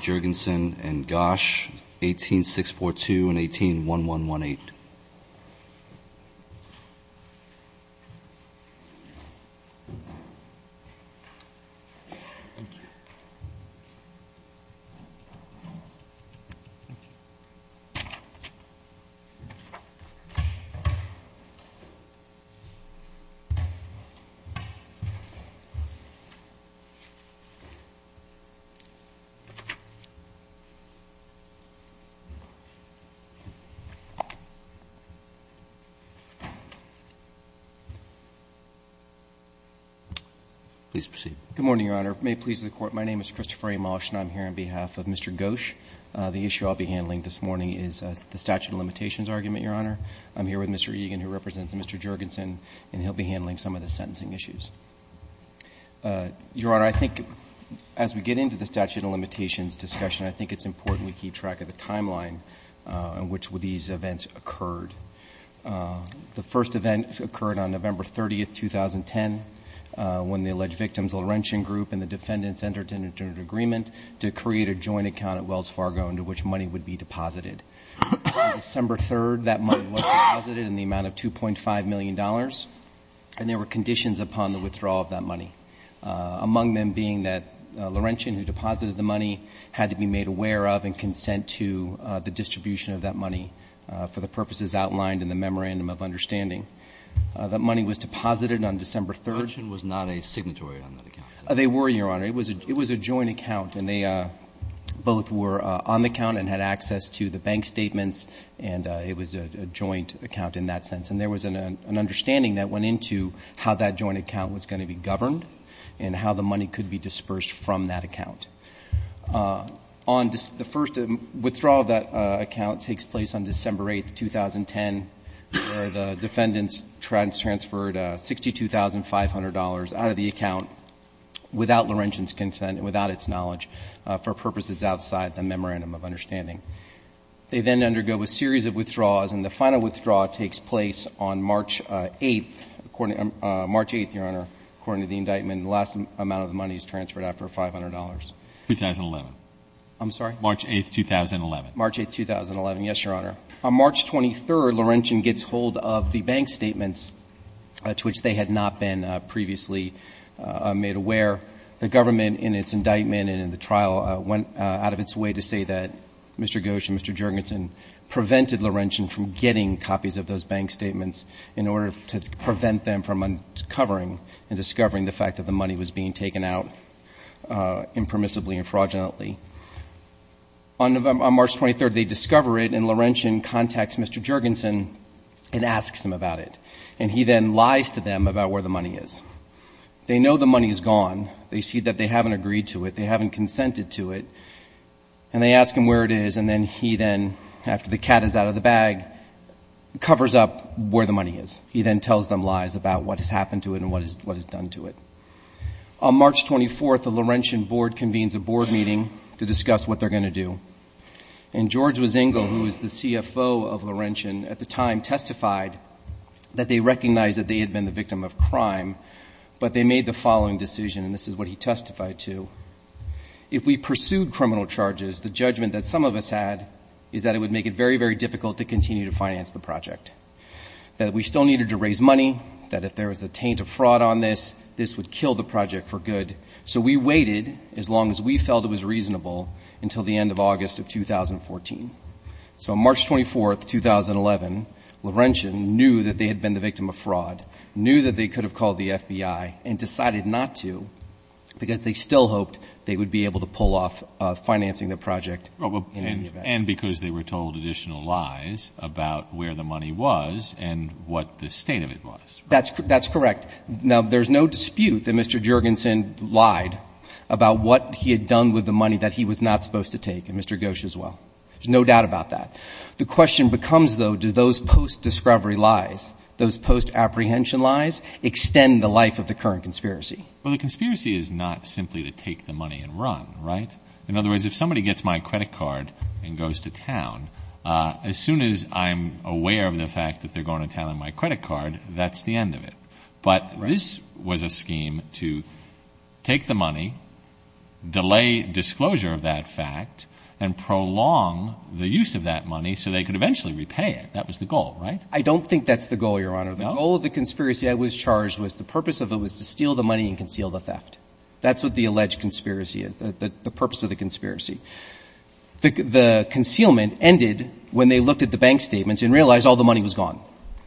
Jergensen and Gosch, 18-642 and 18-1118. Good morning, Your Honor. May it please the Court, my name is Christopher A. Mosh, and I'm here on behalf of Mr. Gosch. The issue I'll be handling this morning is the statute of limitations argument, Your Honor. I'm here with Mr. Egan, who represents Mr. Jergensen, and he'll be handling some of the sentencing issues. Your Honor, I think as we get into the statute of limitations discussion, I think it's important we keep track of the timeline in which these events occurred. The first event occurred on November 30, 2010, when the alleged victims Laurentian Group and the defendants entered into an agreement to create a joint account at Wells Fargo into which money would be deposited. On December 3, that money was deposited in the amount of $2.5 million, and there were conditions upon the withdrawal of that money, among them being that Laurentian, who deposited the money, had to be made aware of and consent to the distribution of that money for the purposes outlined in the memorandum of understanding. That money was deposited on December 3. Laurentian was not a signatory on that account. They were, Your Honor. It was a joint account, and they both were on the account and had access to the bank statements, and it was a joint account in that sense. There was an understanding that went into how that joint account was going to be governed and how the money could be dispersed from that account. The first withdrawal of that account takes place on December 8, 2010, where the defendants transferred $62,500 out of the account without Laurentian's consent, without its knowledge, for purposes outside the memorandum of understanding. They then undergo a series of withdrawals, and the final withdrawal takes place on March 8. March 8, Your Honor, according to the indictment, the last amount of the money is transferred after $500. 2011. I'm sorry? March 8, 2011. March 8, 2011. Yes, Your Honor. On March 23, Laurentian gets hold of the bank statements to which they had not been previously made aware. The government, in its indictment and in the trial, went out of its way to say that Mr. Ghosh and Mr. Juergensen prevented Laurentian from getting copies of those bank statements in order to prevent them from uncovering and discovering the fact that the money was being taken out impermissibly and fraudulently. On March 23, they discover it, and Laurentian contacts Mr. Juergensen and asks him about it, and he then lies to them about where the money is. They know the money is gone. They see that they haven't agreed to it. They haven't consented to it, and they ask him where it is, and then he then, after the cat is out of the bag, covers up where the money is. He then tells them lies about what has happened to it and what is done to it. On March 24, the Laurentian board convenes a board meeting to discuss what they're going to do, and George Wazingo, who was the CFO of Laurentian at the time, testified that they recognized that they had been the victim of crime, but they made the following decision, and this is what he testified to. If we pursued criminal charges, the judgment that some of us had is that it would make it very, very difficult to continue to finance the project, that we still needed to raise money, that if there was a taint of fraud on this, this would kill the project for good. So we waited as long as we felt it was reasonable until the end of August of 2014. So on March 24, 2011, Laurentian knew that they had been the victim of fraud, knew that they could have called the FBI and decided not to because they still hoped they would be able to pull off financing the project. And because they were told additional lies about where the money was and what the state of it was. That's correct. Now, there's no dispute that Mr. Juergensen lied about what he had done with the money that he was not supposed to take, and Mr. Ghosh as well. There's no doubt about that. The question becomes, though, do those post-discovery lies, those post-apprehension lies, extend the life of the current conspiracy? Well, the conspiracy is not simply to take the money and run, right? In other words, if somebody gets my credit card and goes to town, as soon as I'm aware of the fact that they're going to town on my credit card, that's the end of it. But this was a scheme to take the money, delay disclosure of that fact, and prolong the use of that money so they could eventually repay it. That was the goal, right? I don't think that's the goal, Your Honor. The goal of the conspiracy I was charged with, the purpose of it, was to steal the money and conceal the theft. That's what the alleged conspiracy is, the purpose of the conspiracy. The concealment ended when they looked at the bank statements and realized all the money was gone.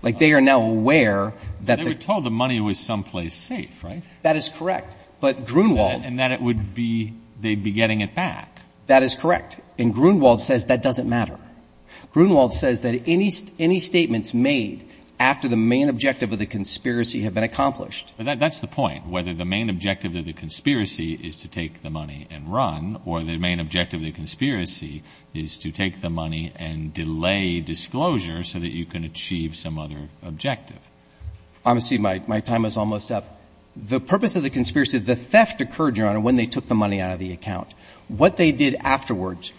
Like, they are now aware that the They were told the money was someplace safe, right? That is correct. But Grunewald And that it would be, they'd be getting it back. That is correct. And Grunewald says that doesn't matter. Grunewald says that any statements made after the main objective of the conspiracy have been accomplished. That's the point. Whether the main objective of the conspiracy is to take the money and run, or the main objective of the conspiracy is to take the money and delay disclosure so that you can achieve some other objective. I'm sorry, my time is almost up. The purpose of the conspiracy, the theft occurred, Your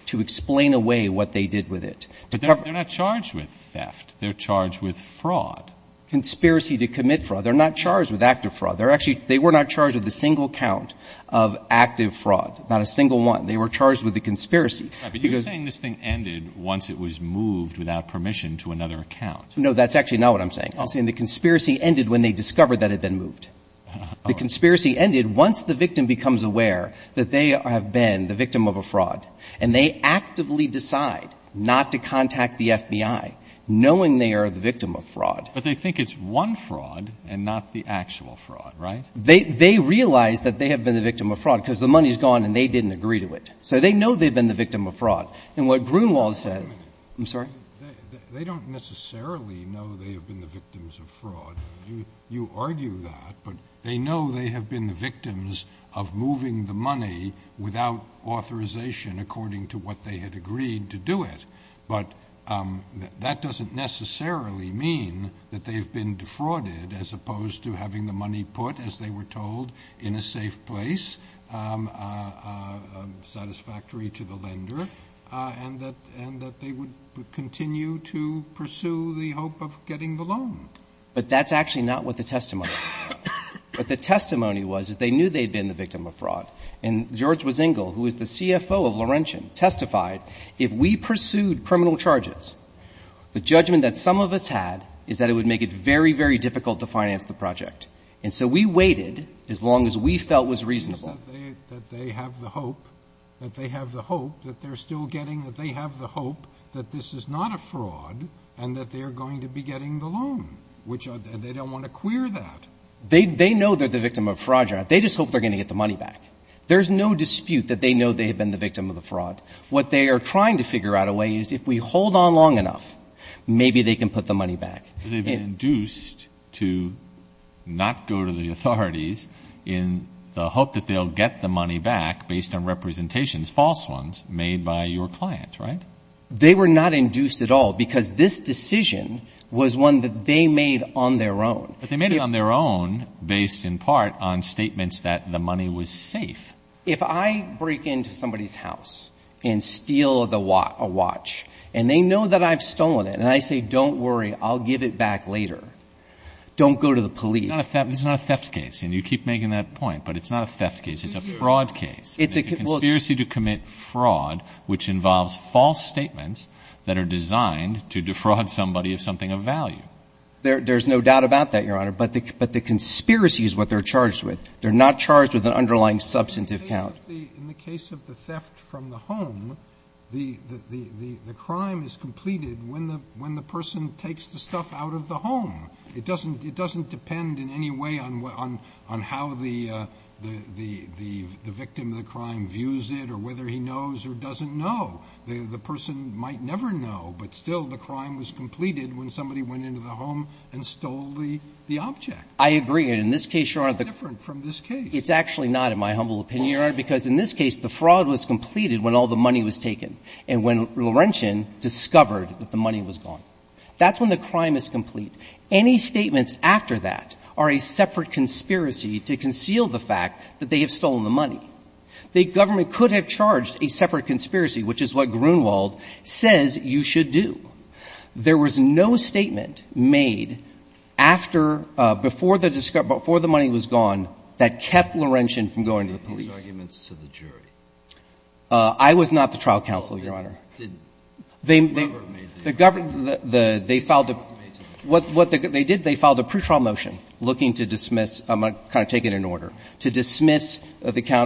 to explain away what they did with it. But they're not charged with theft. They're charged with fraud. Conspiracy to commit fraud. They're not charged with active fraud. They're actually, they were not charged with a single count of active fraud, not a single one. They were charged with a conspiracy. Right, but you're saying this thing ended once it was moved without permission to another account. No, that's actually not what I'm saying. I'm saying the conspiracy ended when they discovered that it had been moved. The conspiracy ended once the victim becomes aware that they have been the victim of a fraud. And they actively decide not to contact the FBI, knowing they are the victim of fraud. But they think it's one fraud and not the actual fraud, right? They realize that they have been the victim of fraud because the money is gone and they didn't agree to it. So they know they've been the victim of fraud. And what Grunewald says — Wait a minute. I'm sorry? They don't necessarily know they have been the victims of fraud. You argue that, but they know they have been the victims of moving the money without authorization according to what they had agreed to do it. But that doesn't necessarily mean that they've been defrauded as opposed to having the money put, as they were told, in a safe place, satisfactory to the lender, and that they would continue to pursue the hope of getting the loan. But that's actually not what the testimony was about. What the testimony was, is they knew they had been the victim of fraud. And George Wiesengel, who is the CFO of Laurentian, testified, if we pursued criminal charges, the judgment that some of us had is that it would make it very, very difficult to finance the project. And so we waited as long as we felt was reasonable. It's not that they have the hope, that they have the hope that they're still getting the loan, which they don't want to clear that. They know they're the victim of fraud. They just hope they're going to get the money back. There's no dispute that they know they have been the victim of the fraud. What they are trying to figure out a way is if we hold on long enough, maybe they can put the money back. They've been induced to not go to the authorities in the hope that they'll get the money back based on representations, false ones, made by your client, right? They were not induced at all because this decision was one that they made on their own. But they made it on their own based in part on statements that the money was safe. If I break into somebody's house and steal a watch and they know that I've stolen it and I say, don't worry, I'll give it back later, don't go to the police. It's not a theft case. And you keep making that point. But it's not a theft case. It's a fraud case. It's a conspiracy to commit fraud. Which involves false statements that are designed to defraud somebody of something of value. There's no doubt about that, Your Honor. But the conspiracy is what they're charged with. They're not charged with an underlying substantive count. In the case of the theft from the home, the crime is completed when the person takes the stuff out of the home. It doesn't depend in any way on how the victim of the crime views it or whether he knows or doesn't know. The person might never know, but still the crime was completed when somebody went into the home and stole the object. I agree. And in this case, Your Honor, the It's different from this case. It's actually not, in my humble opinion, Your Honor, because in this case the fraud was completed when all the money was taken. And when Laurentian discovered that the money was gone. That's when the crime is complete. Any statements after that are a separate conspiracy to conceal the fact that they have stolen the money. The government could have charged a separate conspiracy, which is what Grunewald says you should do. There was no statement made after, before the money was gone that kept Laurentian from going to the police. You made those arguments to the jury. I was not the trial counsel, Your Honor. No, you didn't. The government made the argument. What they did, they filed a pre-trial motion looking to dismiss, kind of take it in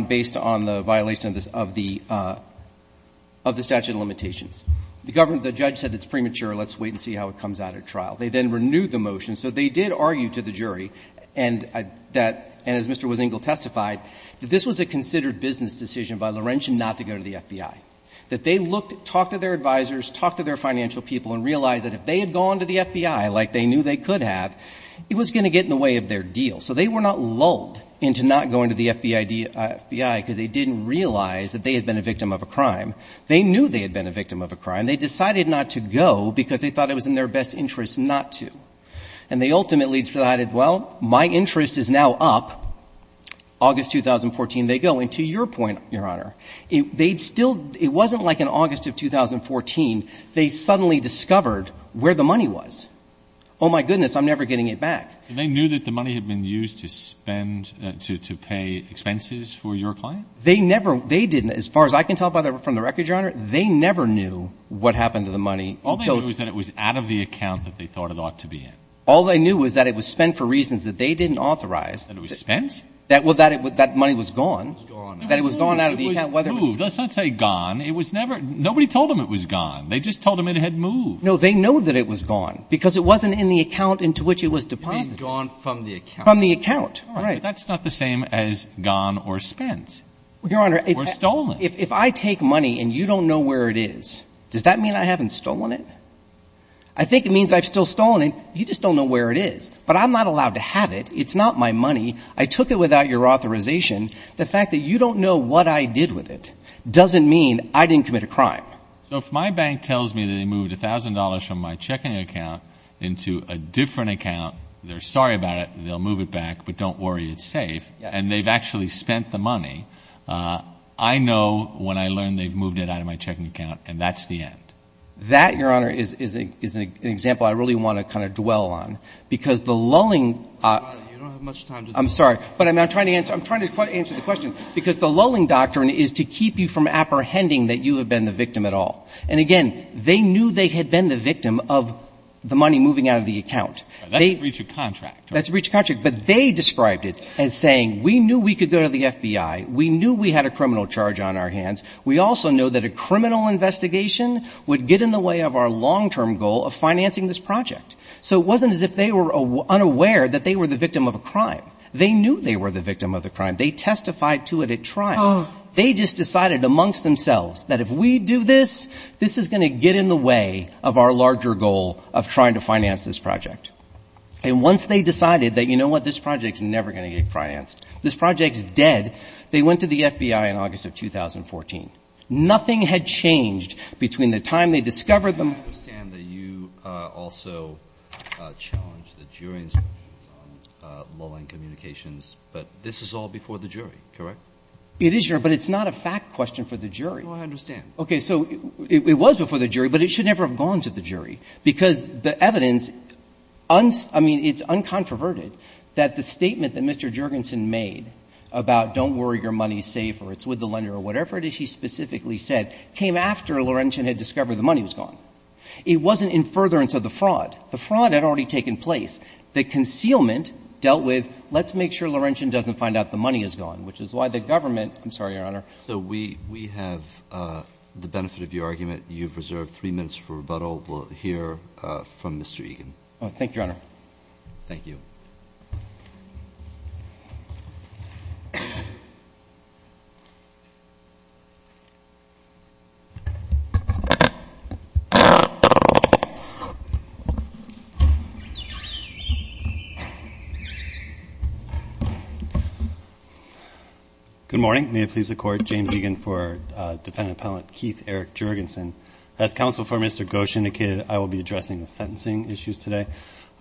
based on the violation of the statute of limitations. The government, the judge said it's premature. Let's wait and see how it comes out at trial. They then renewed the motion. So they did argue to the jury, and that, and as Mr. Wisingle testified, that this was a considered business decision by Laurentian not to go to the FBI. That they looked, talked to their advisors, talked to their financial people, and realized that if they had gone to the FBI like they knew they could have, it was going to get in the way of their deal. So they were not lulled into not going to the FBI because they didn't realize that they had been a victim of a crime. They knew they had been a victim of a crime. They decided not to go because they thought it was in their best interest not to. And they ultimately decided, well, my interest is now up. August 2014, they go. And to your point, Your Honor, they'd still, it wasn't like in August of 2014, they suddenly discovered where the money was. Oh, my goodness, I'm never getting it back. They knew that the money had been used to spend, to pay expenses for your client? They never, they didn't. As far as I can tell from the record, Your Honor, they never knew what happened to the money. All they knew was that it was out of the account that they thought it ought to be in. All they knew was that it was spent for reasons that they didn't authorize. That it was spent? Well, that money was gone. It was gone. That it was gone out of the account. It was moved. Let's not say gone. It was never, nobody told them it was gone. They just told them it had moved. No, they know that it was gone because it wasn't in the account into which it was deposited. It had been gone from the account. From the account, right. All right, but that's not the same as gone or spent or stolen. Your Honor, if I take money and you don't know where it is, does that mean I haven't stolen it? I think it means I've still stolen it. You just don't know where it is. But I'm not allowed to have it. It's not my money. I took it without your authorization. So if my bank tells me that they moved $1,000 from my checking account into a different account, they're sorry about it, they'll move it back, but don't worry, it's safe, and they've actually spent the money, I know when I learn they've moved it out of my checking account and that's the end. That, Your Honor, is an example I really want to kind of dwell on because the lulling. You don't have much time. I'm sorry. But I'm trying to answer the question because the lulling doctrine is to keep you from apprehending that you have been the victim at all. And, again, they knew they had been the victim of the money moving out of the account. That's breach of contract. That's breach of contract. But they described it as saying we knew we could go to the FBI, we knew we had a criminal charge on our hands, we also know that a criminal investigation would get in the way of our long-term goal of financing this project. So it wasn't as if they were unaware that they were the victim of a crime. They knew they were the victim of a crime. They testified to it at trial. They just decided amongst themselves that if we do this, this is going to get in the way of our larger goal of trying to finance this project. And once they decided that, you know what, this project is never going to get financed, this project is dead, they went to the FBI in August of 2014. Nothing had changed between the time they discovered the money. I understand that you also challenged the jury instructions on lulling communications, but this is all before the jury, correct? It is, Your Honor, but it's not a fact question for the jury. No, I understand. Okay, so it was before the jury, but it should never have gone to the jury, because the evidence, I mean, it's uncontroverted that the statement that Mr. Juergensen made about don't worry, your money is safe or it's with the lender or whatever it is he specifically said came after Laurentian had discovered the money was gone. It wasn't in furtherance of the fraud. The fraud had already taken place. The concealment dealt with let's make sure Laurentian doesn't find out the money is gone, which is why the government, I'm sorry, Your Honor. So we have the benefit of your argument. You've reserved three minutes for rebuttal. We'll hear from Mr. Egan. Thank you, Your Honor. Thank you. Good morning. May it please the Court, James Egan for Defendant Appellant Keith Eric Juergensen. As Counsel for Mr. Ghosh indicated, I will be addressing the sentencing issues today.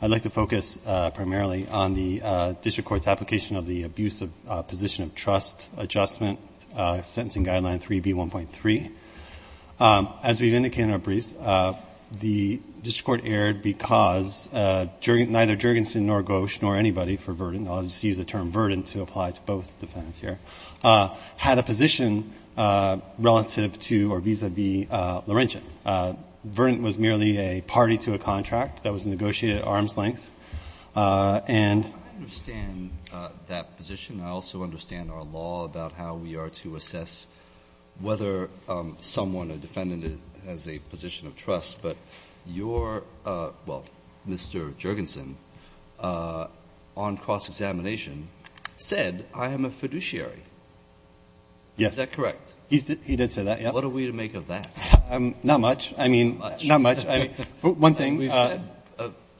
I'd like to focus primarily on the district court's application of the abusive position of trust adjustment sentencing guideline 3B1.3. As we've indicated in our briefs, the district court erred because neither Juergensen nor Ghosh nor anybody for the term verdant to apply to both defendants here had a position relative to or vis-a-vis Laurentian. Verdant was merely a party to a contract that was negotiated at arm's length. And the district court erred. I understand that position. I also understand our law about how we are to assess whether someone, a defendant, has a position of trust, but your, well, Mr. Jergensen, on cross-examination, said, I am a fiduciary. Is that correct? Yes. He did say that, yes. What are we to make of that? Not much. I mean, not much. One thing. We've said,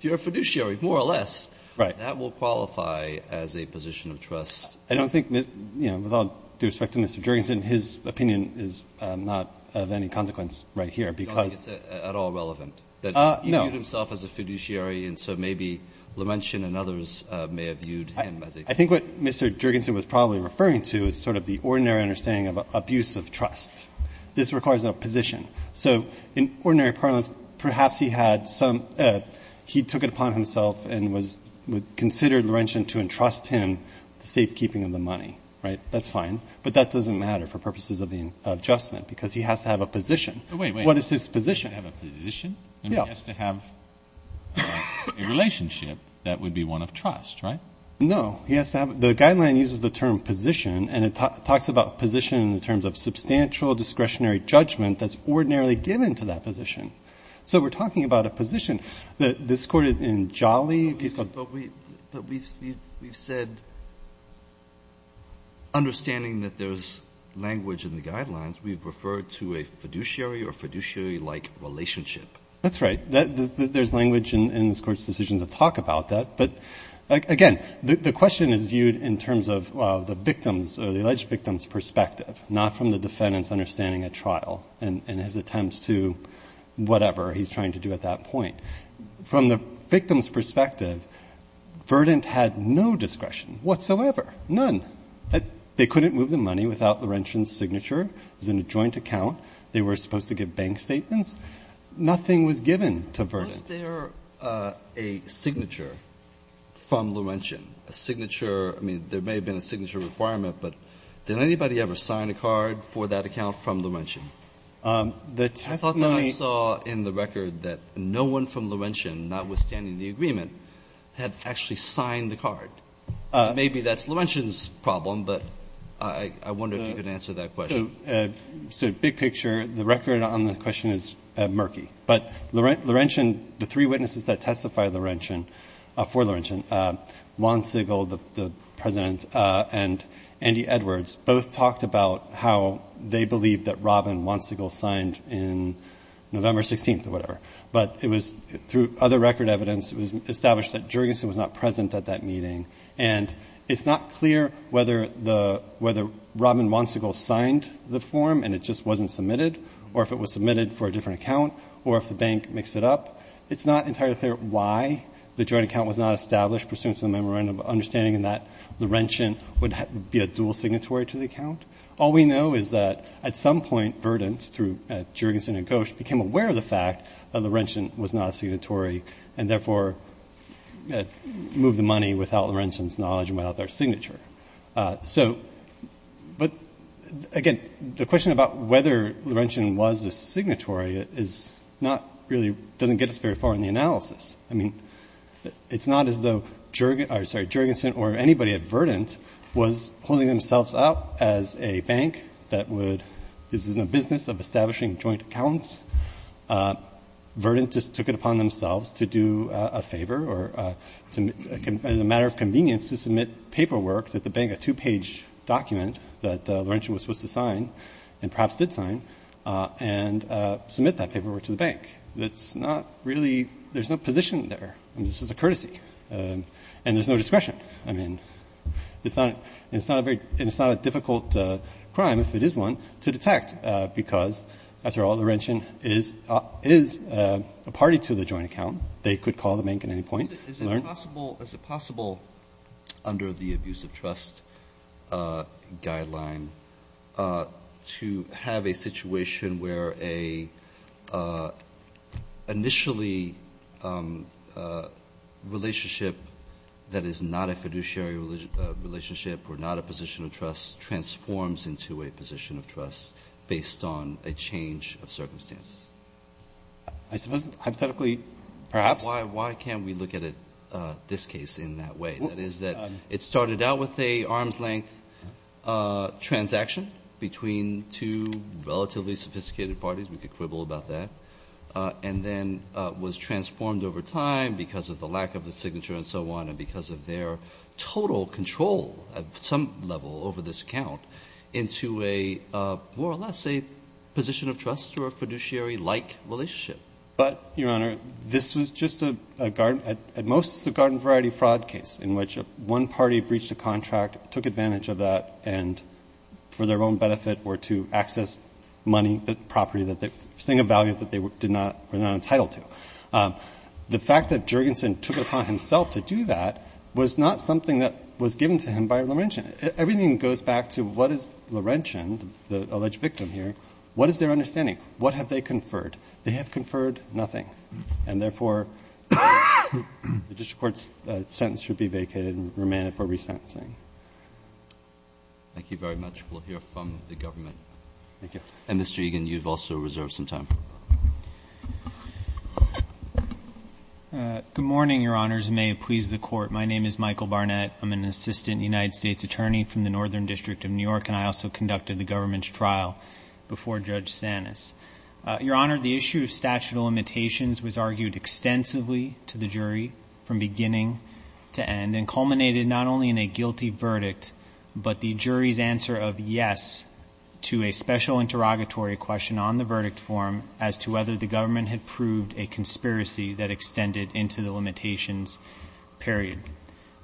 you're a fiduciary, more or less. Right. That will qualify as a position of trust. I don't think, you know, with all due respect to Mr. Jergensen, his opinion is not of any consequence right here, because you know. I don't think it's at all relevant. No. He viewed himself as a fiduciary, and so maybe Laurentian and others may have viewed him as a fiduciary. I think what Mr. Jergensen was probably referring to is sort of the ordinary understanding of abuse of trust. This requires a position. So in ordinary parlance, perhaps he had some – he took it upon himself and was – Right. That's fine. But that doesn't matter for purposes of the adjustment, because he has to have a position. Wait, wait. What is his position? He has to have a position? Yeah. He has to have a relationship that would be one of trust, right? No. He has to have – the guideline uses the term position, and it talks about position in terms of substantial discretionary judgment that's ordinarily given to that position. So we're talking about a position. This court in Jolly – But we've said understanding that there's language in the guidelines, we've referred to a fiduciary or fiduciary-like relationship. That's right. There's language in this Court's decision to talk about that. But, again, the question is viewed in terms of the victim's or the alleged victim's perspective, not from the defendant's understanding at trial and his attempts to whatever he's trying to do at that point. From the victim's perspective, Verdant had no discretion whatsoever, none. They couldn't move the money without Laurentian's signature. It was in a joint account. They were supposed to give bank statements. Nothing was given to Verdant. Was there a signature from Laurentian, a signature? I mean, there may have been a signature requirement, but did anybody ever sign a card for that account from Laurentian? The testimony – No one from Laurentian, notwithstanding the agreement, had actually signed the card. Maybe that's Laurentian's problem, but I wonder if you could answer that question. So big picture, the record on the question is murky. But Laurentian – the three witnesses that testify for Laurentian, Juan Sigel, the President, and Andy Edwards, both talked about how they believed that Rob and Juan Sigel signed in November 16th or whatever. But it was – through other record evidence, it was established that Juergensen was not present at that meeting. And it's not clear whether the – whether Rob and Juan Sigel signed the form and it just wasn't submitted, or if it was submitted for a different account, or if the bank mixed it up. It's not entirely clear why the joint account was not established, pursuant to the memorandum, understanding that Laurentian would be a dual signatory to the account. All we know is that at some point, Verdant, through Juergensen and Ghosh, became aware of the fact that Laurentian was not a signatory and, therefore, moved the money without Laurentian's knowledge and without their signature. So – but, again, the question about whether Laurentian was a signatory is not really – doesn't get us very far in the analysis. I mean, it's not as though Juergensen or anybody at Verdant was holding themselves up as a bank that would – this isn't a business of establishing joint accounts. Verdant just took it upon themselves to do a favor or – as a matter of convenience to submit paperwork to the bank, a two-page document that Laurentian was supposed to sign and perhaps did sign, and submit that paperwork to the bank. That's not really – there's no position there. I mean, this is a courtesy. And there's no discretion. I mean, it's not a very – it's not a difficult crime, if it is one, to detect because, after all, Laurentian is a party to the joint account. They could call the bank at any point. Is it possible – is it possible under the abusive trust guideline to have a situation where an initially relationship that is not a fiduciary relationship or not a position of trust transforms into a position of trust based on a change of circumstances? I suppose hypothetically, perhaps. Why can't we look at it, this case, in that way? That is that it started out with an arm's-length transaction between two relatively sophisticated parties. We could quibble about that. And then was transformed over time because of the lack of the signature and so on and because of their total control at some level over this account into a more or less a position of trust or a fiduciary-like relationship. But, Your Honor, this was just a garden – this was just a garden in which one party breached a contract, took advantage of that, and, for their own benefit, were to access money, property, something of value that they were not entitled to. The fact that Jurgensen took it upon himself to do that was not something that was given to him by Laurentian. Everything goes back to what is Laurentian, the alleged victim here, what is their understanding? What have they conferred? They have conferred nothing. And, therefore, the district court's sentence should be vacated and remanded for resentencing. Thank you very much. We'll hear from the government. Thank you. And, Mr. Egan, you've also reserved some time. Good morning, Your Honors, and may it please the Court. My name is Michael Barnett. I'm an assistant United States attorney from the Northern District of New York, and I also conducted the government's trial before Judge Sanis. Your Honor, the issue of statute of limitations was argued extensively to the jury from beginning to end and culminated not only in a guilty verdict, but the jury's answer of yes to a special interrogatory question on the verdict form as to whether the government had proved a conspiracy that extended into the limitations period.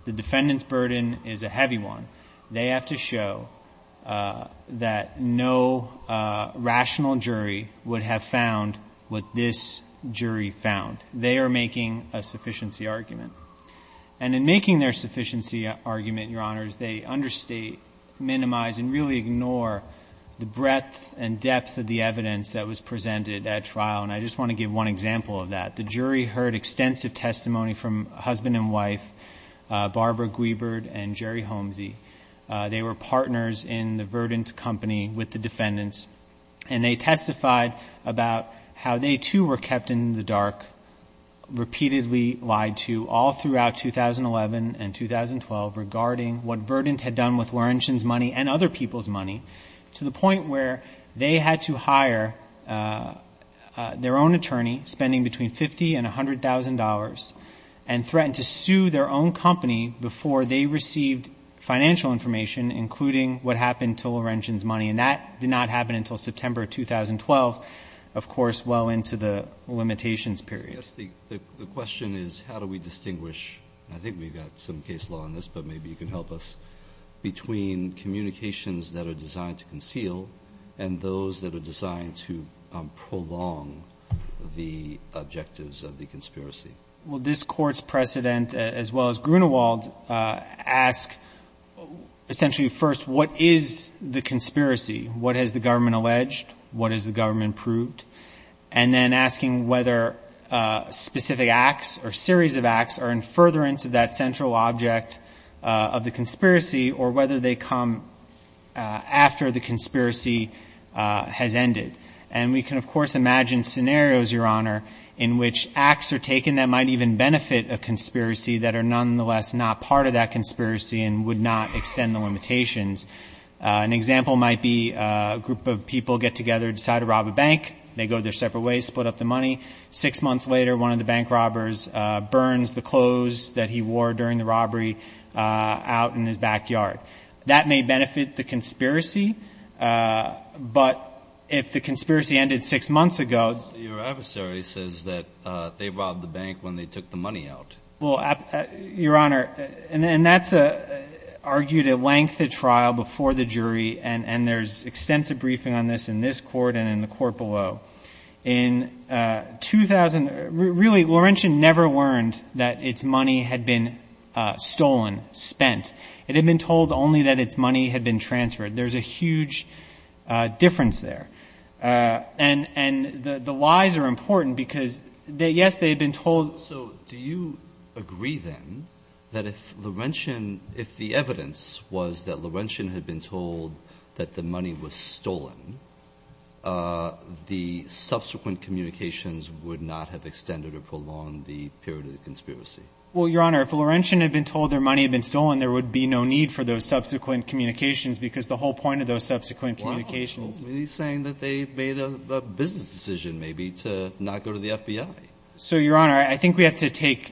The defendant's burden is a heavy one. They have to show that no rational jury would have found what this jury found. They are making a sufficiency argument. And in making their sufficiency argument, Your Honors, they understate, minimize, and really ignore the breadth and depth of the evidence that was presented at trial, and I just want to give one example of that. The jury heard extensive testimony from husband and wife, Barbara Guibert and Jerry Holmesy. They were partners in the Verdant Company with the defendants, and they testified about how they too were kept in the dark, repeatedly lied to all throughout 2011 and 2012 regarding what Verdant had done with Laurentian's money and other people's money to the point where they had to hire their own attorney, spending between $50,000 and $100,000, and threatened to sue their own company before they received financial information, including what happened to Laurentian's money, and that did not happen until September 2012, of course well into the limitations period. Yes, the question is how do we distinguish, and I think we've got some case law on this but maybe you can help us, between communications that are designed to conceal and those that are designed to prolong the objectives of the conspiracy. Well, this Court's precedent, as well as Grunewald, ask essentially first what is the conspiracy, what has the government alleged, what has the government proved, and then asking whether specific acts or series of acts are in furtherance of that central object of the conspiracy or whether they come after the conspiracy has ended. And we can, of course, imagine scenarios, Your Honor, in which acts are taken that might even benefit a conspiracy that are nonetheless not part of that conspiracy and would not extend the limitations. An example might be a group of people get together, decide to rob a bank. They go their separate ways, split up the money. Six months later, one of the bank robbers burns the clothes that he wore during the robbery out in his backyard. That may benefit the conspiracy, but if the conspiracy ended six months ago… Your adversary says that they robbed the bank when they took the money out. Well, Your Honor, and that's argued at length at trial before the jury, and there's extensive briefing on this in this Court and in the Court below. In 2000, really, Laurentian never learned that its money had been stolen, spent. It had been told only that its money had been transferred. There's a huge difference there. And the lies are important because, yes, they had been told… So do you agree, then, that if Laurentian, if the evidence was that Laurentian had been told that the money was stolen, the subsequent communications would not have extended or prolonged the period of the conspiracy? Well, Your Honor, if Laurentian had been told their money had been stolen, there would be no need for those subsequent communications because the whole point of those subsequent communications… Well, he's saying that they made a business decision, maybe, to not go to the FBI. So, Your Honor, I think we have to take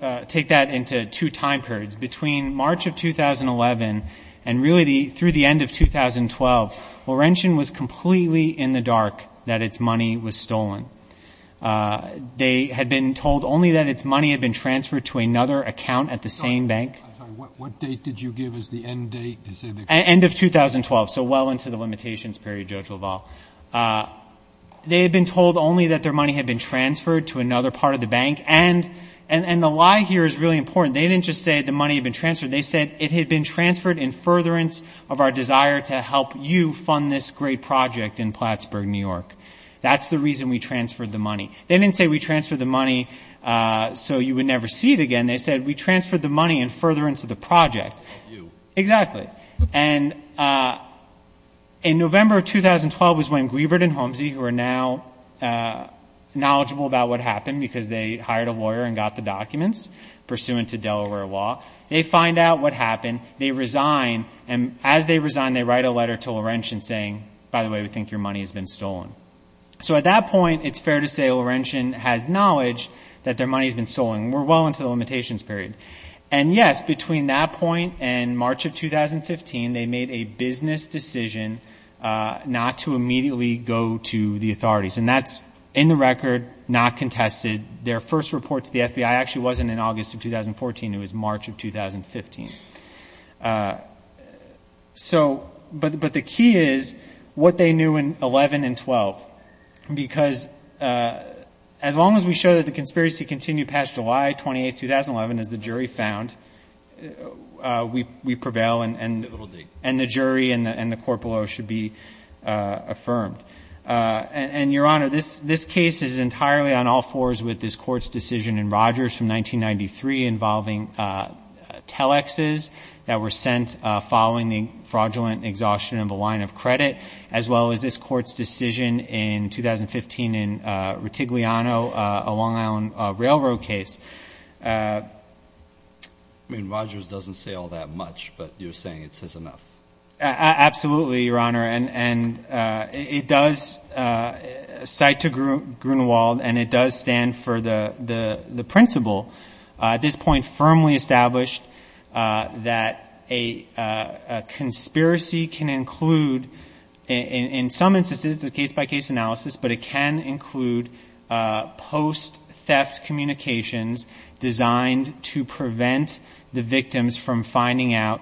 that into two time periods. Between March of 2011 and really through the end of 2012, Laurentian was completely in the dark that its money was stolen. They had been told only that its money had been transferred to another account at the same bank. I'm sorry. What date did you give as the end date? End of 2012, so well into the limitations period, Judge LaValle. They had been told only that their money had been transferred to another part of the bank. And the lie here is really important. They didn't just say the money had been transferred. They said it had been transferred in furtherance of our desire to help you fund this great project in Plattsburgh, New York. That's the reason we transferred the money. They didn't say we transferred the money so you would never see it again. They said we transferred the money in furtherance of the project. You. Exactly. And in November of 2012 was when Griebert and Holmesy, who are now knowledgeable about what happened because they hired a lawyer and got the documents pursuant to Delaware law, they find out what happened. They resign. And as they resign, they write a letter to Laurentian saying, by the way, we think your money has been stolen. So at that point, it's fair to say Laurentian has knowledge that their money has been stolen. We're well into the limitations period. And, yes, between that point and March of 2015, they made a business decision not to immediately go to the authorities. And that's in the record, not contested. Their first report to the FBI actually wasn't in August of 2014. It was March of 2015. So but the key is what they knew in 11 and 12 because as long as we show that the conspiracy continued past July 28, 2011, as the jury found, we prevail and the jury and the court below should be affirmed. And, Your Honor, this case is entirely on all fours with this court's decision in Rogers from 1993 involving telexes that were sent following the fraudulent exhaustion of a line of credit, as well as this court's decision in 2015 in Ritigliano, a Long Island Railroad case. I mean, Rogers doesn't say all that much, but you're saying it says enough. Absolutely, Your Honor. And it does cite to Grunewald and it does stand for the principle, at this point, firmly established that a conspiracy can include, in some instances, a case-by-case analysis, but it can include post-theft communications designed to prevent the victims from finding out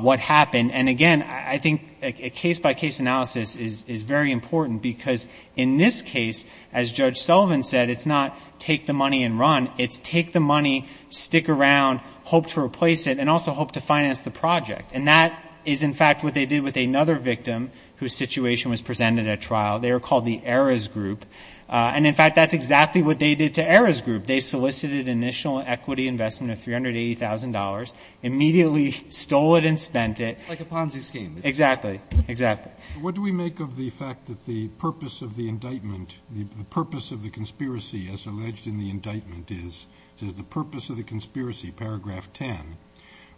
what happened. And, again, I think a case-by-case analysis is very important because, in this case, as Judge Sullivan said, it's not take the money and run. It's take the money, stick around, hope to replace it, and also hope to finance the project. And that is, in fact, what they did with another victim whose situation was presented at trial. They were called the Errors Group. And, in fact, that's exactly what they did to Errors Group. They solicited initial equity investment of $380,000, immediately stole it and spent it. Like a Ponzi scheme. Exactly. Exactly. What do we make of the fact that the purpose of the indictment, the purpose of the conspiracy, as alleged in the indictment is, says the purpose of the conspiracy, paragraph 10,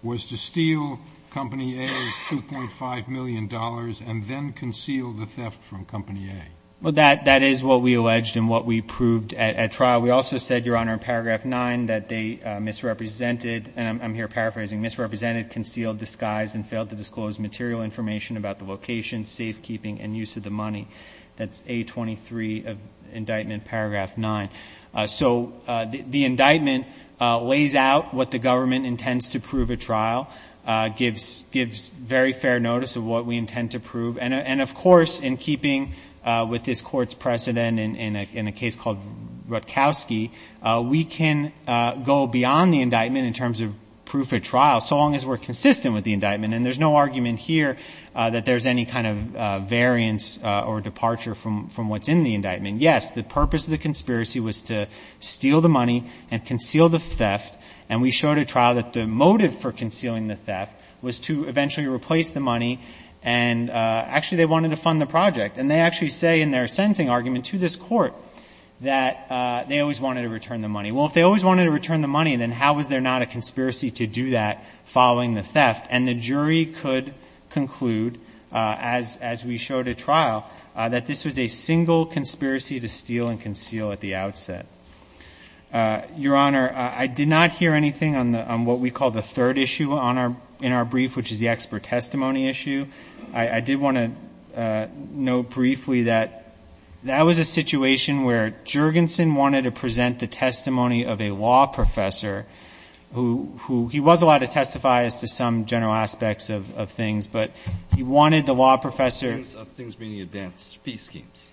was to steal Company A's $2.5 million and then conceal the theft from Company A? Well, that is what we alleged and what we proved at trial. We also said, Your Honor, in paragraph 9, that they misrepresented, and I'm here paraphrasing, misrepresented, concealed, disguised, and failed to disclose material information about the location, safekeeping, and use of the money. That's A23 of indictment, paragraph 9. So the indictment lays out what the government intends to prove at trial, gives very fair notice of what we intend to prove, and, of course, in keeping with this Court's precedent in a case called Rutkowski, we can go beyond the indictment in terms of proof at trial so long as we're consistent with the indictment. And there's no argument here that there's any kind of variance or departure from what's in the indictment. Yes, the purpose of the conspiracy was to steal the money and conceal the theft, and we showed at trial that the motive for concealing the theft was to eventually replace the money. And actually, they wanted to fund the project. And they actually say in their sentencing argument to this Court that they always wanted to return the money. Well, if they always wanted to return the money, then how was there not a conspiracy to do that following the theft? And the jury could conclude, as we showed at trial, that this was a single conspiracy to steal and conceal at the outset. Your Honor, I did not hear anything on what we call the third issue in our brief, which is the expert testimony issue. I did want to note briefly that that was a situation where Juergensen wanted to present the testimony of a law professor who he was allowed to testify as to some general aspects of things, but he wanted the law professor. Things being advanced fee schemes.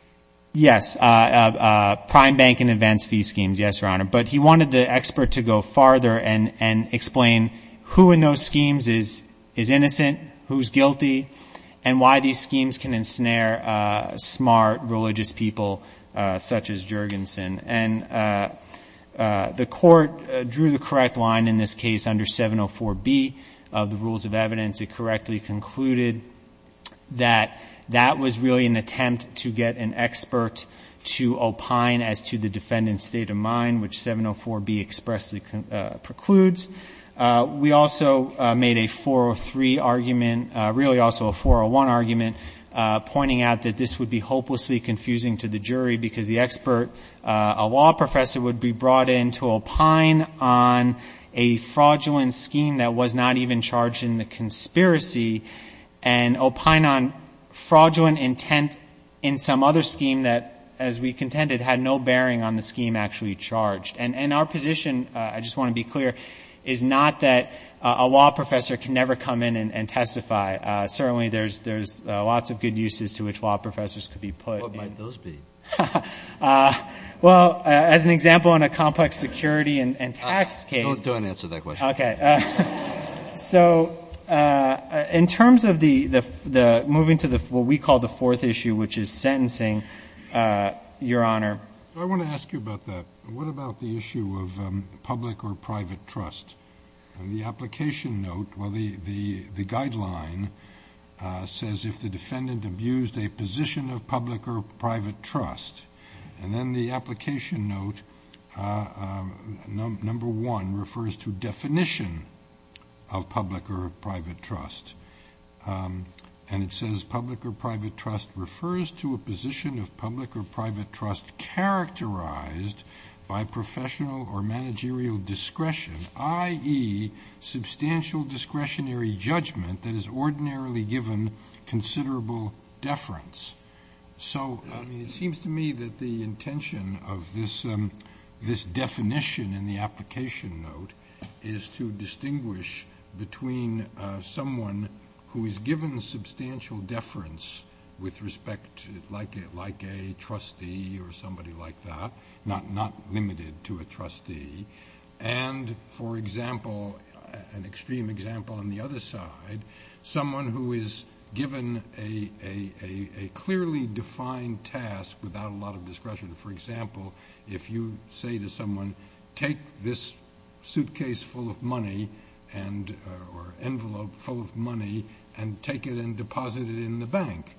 Yes, prime bank and advanced fee schemes, yes, Your Honor. But he wanted the expert to go farther and explain who in those schemes is innocent, who's guilty, and why these schemes can ensnare smart religious people such as Juergensen. And the Court drew the correct line in this case under 704B of the rules of evidence. It correctly concluded that that was really an attempt to get an expert to opine as to the defendant's state of mind, which 704B expressly precludes. We also made a 403 argument, really also a 401 argument, pointing out that this would be hopelessly confusing to the jury because the expert, a law professor, would be brought in to opine on a fraudulent scheme that was not even charged in the conspiracy and opine on fraudulent intent in some other scheme that, as we contended, had no bearing on the scheme actually charged. And our position, I just want to be clear, is not that a law professor can never come in and testify. Certainly there's lots of good uses to which law professors could be put. What might those be? Well, as an example, on a complex security and tax case. Go ahead and answer that question. Okay. So in terms of moving to what we call the fourth issue, which is sentencing, Your Honor. I want to ask you about that. What about the issue of public or private trust? The application note, well, the guideline says if the defendant abused a position of public or private trust. And then the application note, number one, refers to definition of public or private trust. And it says public or private trust refers to a position of public or private trust characterized by professional or managerial discretion, i.e., substantial discretionary judgment that is ordinarily given considerable deference. So it seems to me that the intention of this definition in the application note is to distinguish between someone who is given substantial deference with respect, like a trustee or somebody like that, not limited to a trustee, and, for example, an extreme example on the other side, someone who is given a clearly defined task without a lot of discretion. For example, if you say to someone, take this suitcase full of money or envelope full of money and take it and deposit it in the bank,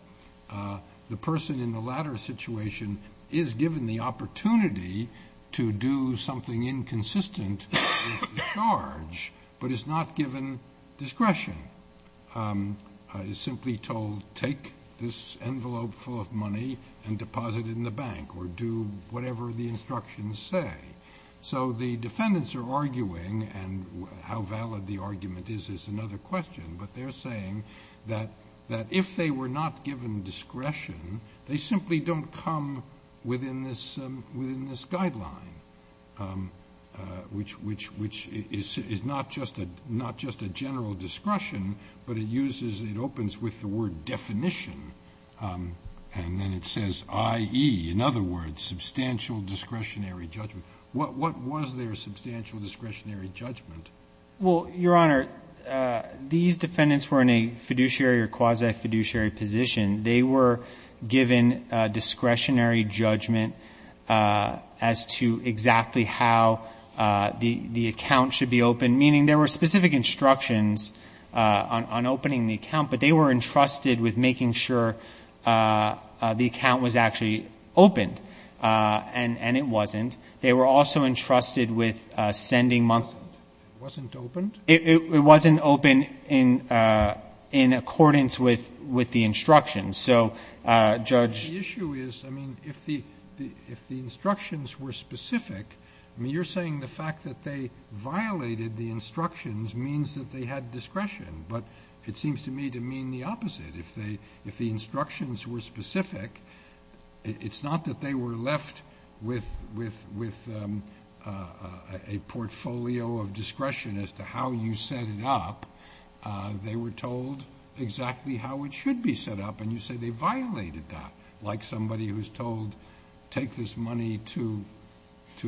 the person in the latter situation is given the opportunity to do something inconsistent with the charge, but is not given discretion. Is simply told, take this envelope full of money and deposit it in the bank, or do whatever the instructions say. So the defendants are arguing, and how valid the argument is is another question, but they're saying that if they were not given discretion, they simply don't come within this guideline, which is not just a general discretion, but it uses, it opens with the word definition, and then it says, i.e., in other words, substantial discretionary judgment. What was their substantial discretionary judgment? Well, Your Honor, these defendants were in a fiduciary or quasi-fiduciary position. They were given discretionary judgment as to exactly how the account should be opened, meaning there were specific instructions on opening the account, but they were entrusted with making sure the account was actually opened, and it wasn't. They were also entrusted with sending money. It wasn't opened? It wasn't opened in accordance with the instructions. So, Judge ---- The issue is, I mean, if the instructions were specific, I mean, you're saying the fact that they violated the instructions means that they had discretion, but it seems to me to mean the opposite. If the instructions were specific, it's not that they were left with a portfolio of discretion as to how you set it up. They were told exactly how it should be set up, and you say they violated that, like somebody who's told take this money to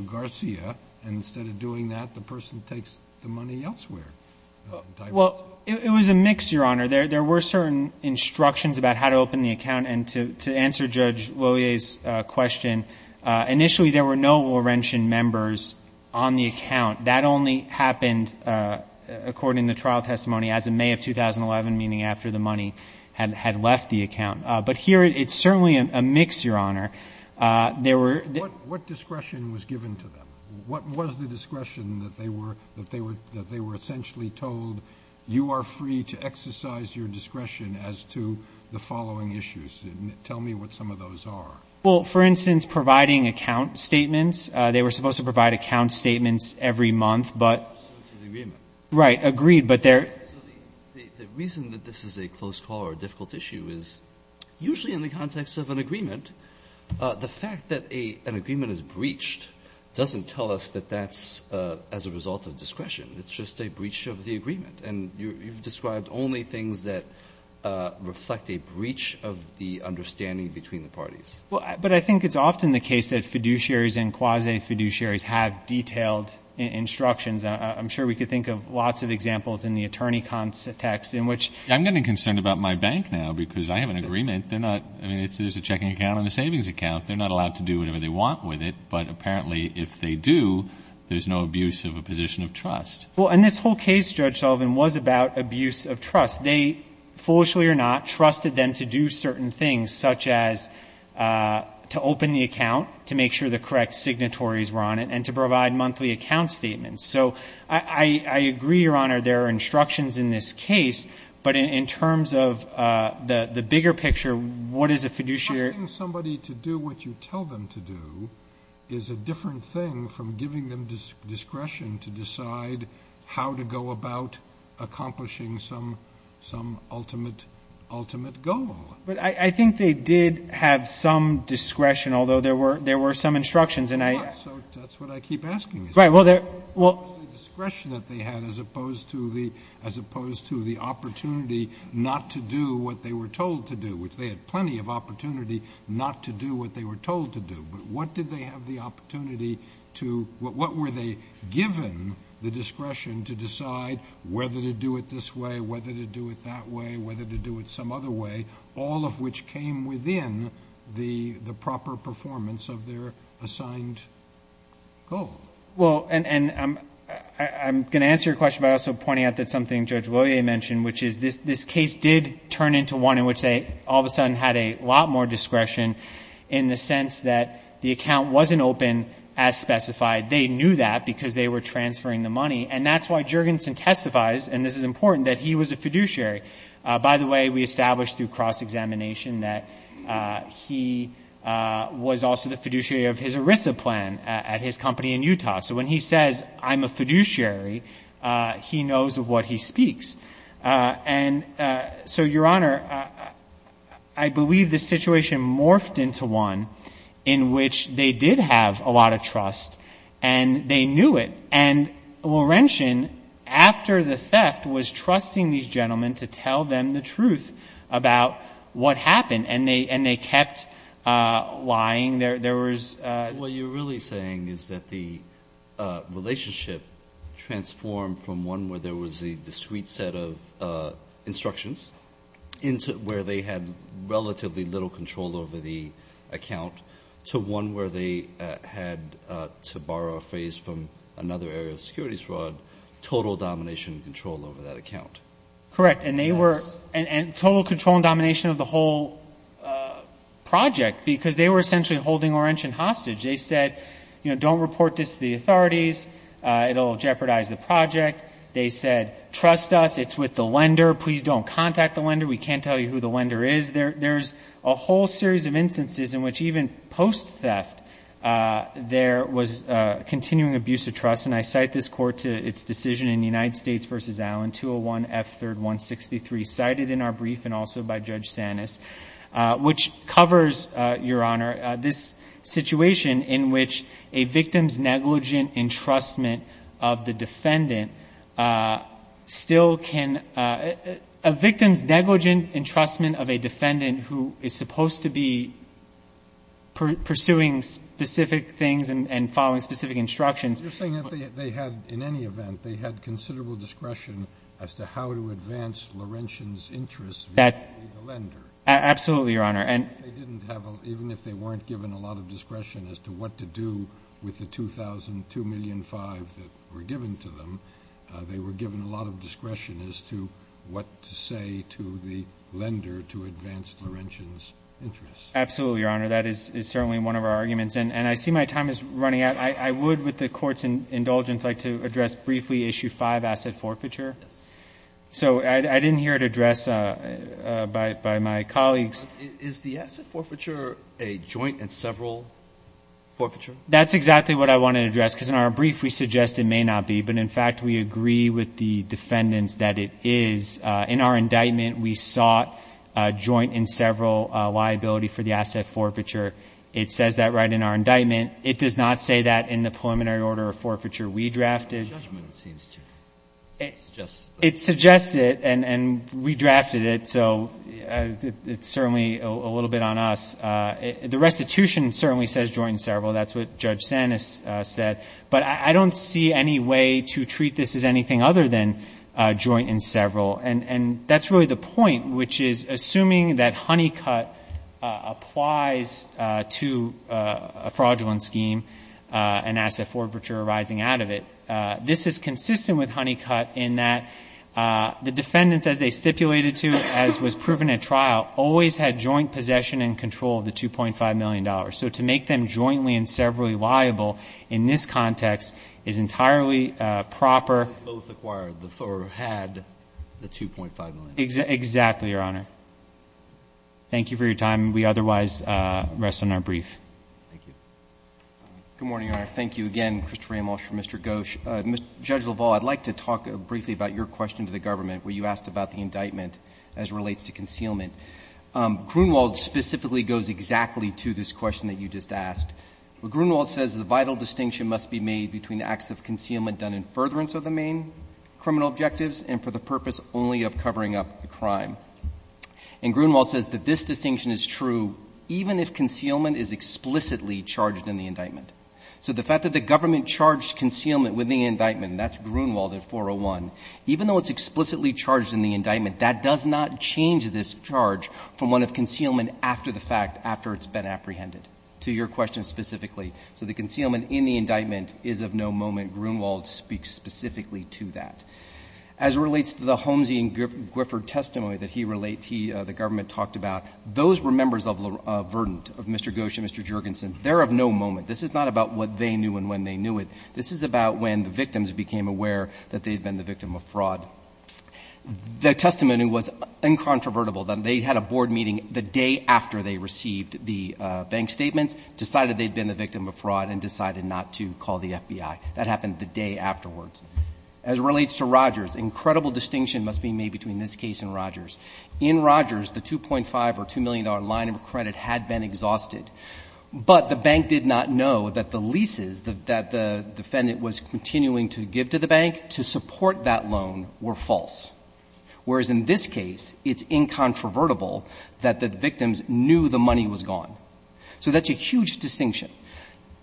Garcia, and instead of doing that, the person takes the money elsewhere. Well, it was a mix, Your Honor. There were certain instructions about how to open the account, and to answer Judge Loyer's question, initially there were no Laurentian members on the account. That only happened according to trial testimony as of May of 2011, meaning after the money had left the account. But here it's certainly a mix, Your Honor. There were ---- What discretion was given to them? What was the discretion that they were essentially told, you are free to exercise your discretion as to the following issues, and tell me what some of those are? Well, for instance, providing account statements. They were supposed to provide account statements every month, but ---- So to the agreement. Right. Agreed, but there ---- The reason that this is a close call or a difficult issue is usually in the context of an agreement, the fact that an agreement is breached doesn't tell us that that's as a result of discretion. It's just a breach of the agreement, and you've described only things that reflect a breach of the understanding between the parties. Well, but I think it's often the case that fiduciaries and quasi-fiduciaries have detailed instructions. I'm sure we could think of lots of examples in the attorney context in which ---- I'm getting concerned about my bank now because I have an agreement. They're not ---- I mean, there's a checking account and a savings account. They're not allowed to do whatever they want with it, but apparently if they do, there's no abuse of a position of trust. Well, and this whole case, Judge Sullivan, was about abuse of trust. They, foolishly or not, trusted them to do certain things, such as to open the account to make sure the correct signatories were on it and to provide monthly account statements. So I agree, Your Honor, there are instructions in this case, but in terms of the bigger picture, what is a fiduciary ---- Asking somebody to do what you tell them to do is a different thing from giving them discretion to decide how to go about accomplishing some ultimate goal. But I think they did have some discretion, although there were some instructions and I ---- So that's what I keep asking. Right. Well, there ---- What was the discretion that they had as opposed to the opportunity not to do what they were told to do, which they had plenty of opportunity not to do what they were told to do? But what did they have the opportunity to ---- What were they given the discretion to decide whether to do it this way, whether to do it that way, whether to do it some other way, all of which came within the proper performance of their assigned goal? Well, and I'm going to answer your question by also pointing out that something this case did turn into one in which they all of a sudden had a lot more discretion in the sense that the account wasn't open as specified. They knew that because they were transferring the money. And that's why Juergensen testifies, and this is important, that he was a fiduciary. By the way, we established through cross-examination that he was also the fiduciary So when he says, I'm a fiduciary, he knows of what he speaks. And so, Your Honor, I believe the situation morphed into one in which they did have a lot of trust, and they knew it. And Laurentian, after the theft, was trusting these gentlemen to tell them the truth about what happened, and they kept lying. There was ---- But what you're really saying is that the relationship transformed from one where there was a discrete set of instructions, where they had relatively little control over the account, to one where they had, to borrow a phrase from another area of securities fraud, total domination and control over that account. Correct. And they were ---- Yes. And total control and domination of the whole project, because they were essentially holding Laurentian hostage. They said, you know, don't report this to the authorities. It will jeopardize the project. They said, trust us. It's with the lender. Please don't contact the lender. We can't tell you who the lender is. There's a whole series of instances in which even post-theft, there was continuing abuse of trust. And I cite this Court to its decision in United States v. Allen, 201F3163, cited in our brief and also by Judge Sanis, which covers, Your Honor, this situation in which a victim's negligent entrustment of the defendant still can ---- A victim's negligent entrustment of a defendant who is supposed to be pursuing specific things and following specific instructions ---- You're saying that they had, in any event, they had considerable discretion as to how to advance Laurentian's interests via the lender. Absolutely, Your Honor. Even if they weren't given a lot of discretion as to what to do with the 2,002,005 that were given to them, they were given a lot of discretion as to what to say to the lender to advance Laurentian's interests. Absolutely, Your Honor. That is certainly one of our arguments. And I see my time is running out. I would, with the Court's indulgence, like to address briefly Issue 5, asset forfeiture. Yes. So I didn't hear it addressed by my colleagues. Is the asset forfeiture a joint and several forfeiture? That's exactly what I wanted to address, because in our brief we suggest it may not be. But, in fact, we agree with the defendants that it is. In our indictment, we sought a joint and several liability for the asset forfeiture. It says that right in our indictment. It does not say that in the preliminary order of forfeiture we drafted. In the judgment, it seems to. It suggests that. It suggests it, and we drafted it. So it's certainly a little bit on us. The restitution certainly says joint and several. That's what Judge Sanis said. But I don't see any way to treat this as anything other than joint and several. And that's really the point, which is, assuming that Honeycutt applies to a fraudulent scheme, an asset forfeiture arising out of it, this is consistent with Honeycutt in that the defendants, as they stipulated to, as was proven at trial, always had joint possession and control of the $2.5 million. So to make them jointly and severally liable in this context is entirely proper. They both acquired or had the $2.5 million. Exactly, Your Honor. Thank you for your time. We otherwise rest on our brief. Thank you. Good morning, Your Honor. Thank you again, Christopher Amolscher and Mr. Gosch. Judge LaValle, I'd like to talk briefly about your question to the government, where you asked about the indictment as it relates to concealment. Grunewald specifically goes exactly to this question that you just asked. Grunewald says the vital distinction must be made between acts of concealment done in furtherance of the main criminal objectives and for the purpose only of covering up the crime. And Grunewald says that this distinction is true even if concealment is explicitly charged in the indictment. So the fact that the government charged concealment with the indictment, and that's Grunewald at 401, even though it's explicitly charged in the indictment, that does not change this charge from one of concealment after the fact, after it's been apprehended, to your question specifically. So the concealment in the indictment is of no moment. Grunewald speaks specifically to that. As it relates to the Holmesian-Gwifford testimony that he related, the government talked about, those were members of the verdant of Mr. Gosch and Mr. Juergensen. They're of no moment. This is not about what they knew and when they knew it. This is about when the victims became aware that they'd been the victim of fraud. The testimony was incontrovertible. They had a board meeting the day after they received the bank statements, decided they'd been the victim of fraud, and decided not to call the FBI. That happened the day afterwards. As it relates to Rogers, incredible distinction must be made between this case and Rogers. In Rogers, the $2.5 or $2 million line of credit had been exhausted. But the bank did not know that the leases that the defendant was continuing to give to the bank to support that loan were false. Whereas in this case, it's incontrovertible that the victims knew the money was gone. So that's a huge distinction.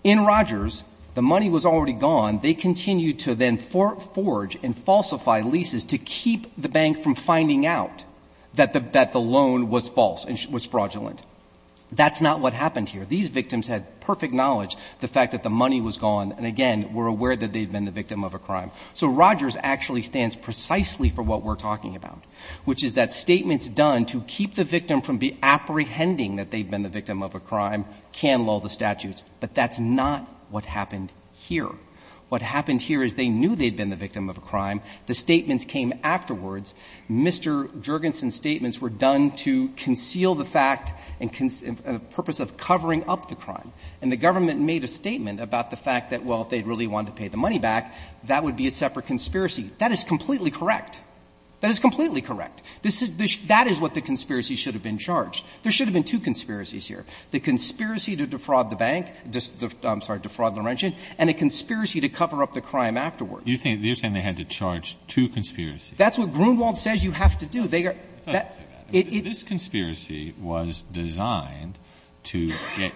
In Rogers, the money was already gone. They continued to then forge and falsify leases to keep the bank from finding out that the loan was false and was fraudulent. That's not what happened here. These victims had perfect knowledge, the fact that the money was gone, and again, were aware that they'd been the victim of a crime. So Rogers actually stands precisely for what we're talking about, which is that statements done to keep the victim from apprehending that they'd been the victim of a crime can lull the statutes. But that's not what happened here. What happened here is they knew they'd been the victim of a crime. The statements came afterwards. Mr. Jurgensen's statements were done to conceal the fact and the purpose of covering up the crime, and the government made a statement about the fact that, well, if they really wanted to pay the money back, that would be a separate conspiracy. That is completely correct. That is completely correct. That is what the conspiracy should have been charged. There should have been two conspiracies here. The conspiracy to defraud the bank, I'm sorry, defraud Laurentian, and a conspiracy to cover up the crime afterwards. You're saying they had to charge two conspiracies. That's what Grunewald says you have to do. It doesn't say that. This conspiracy was designed to get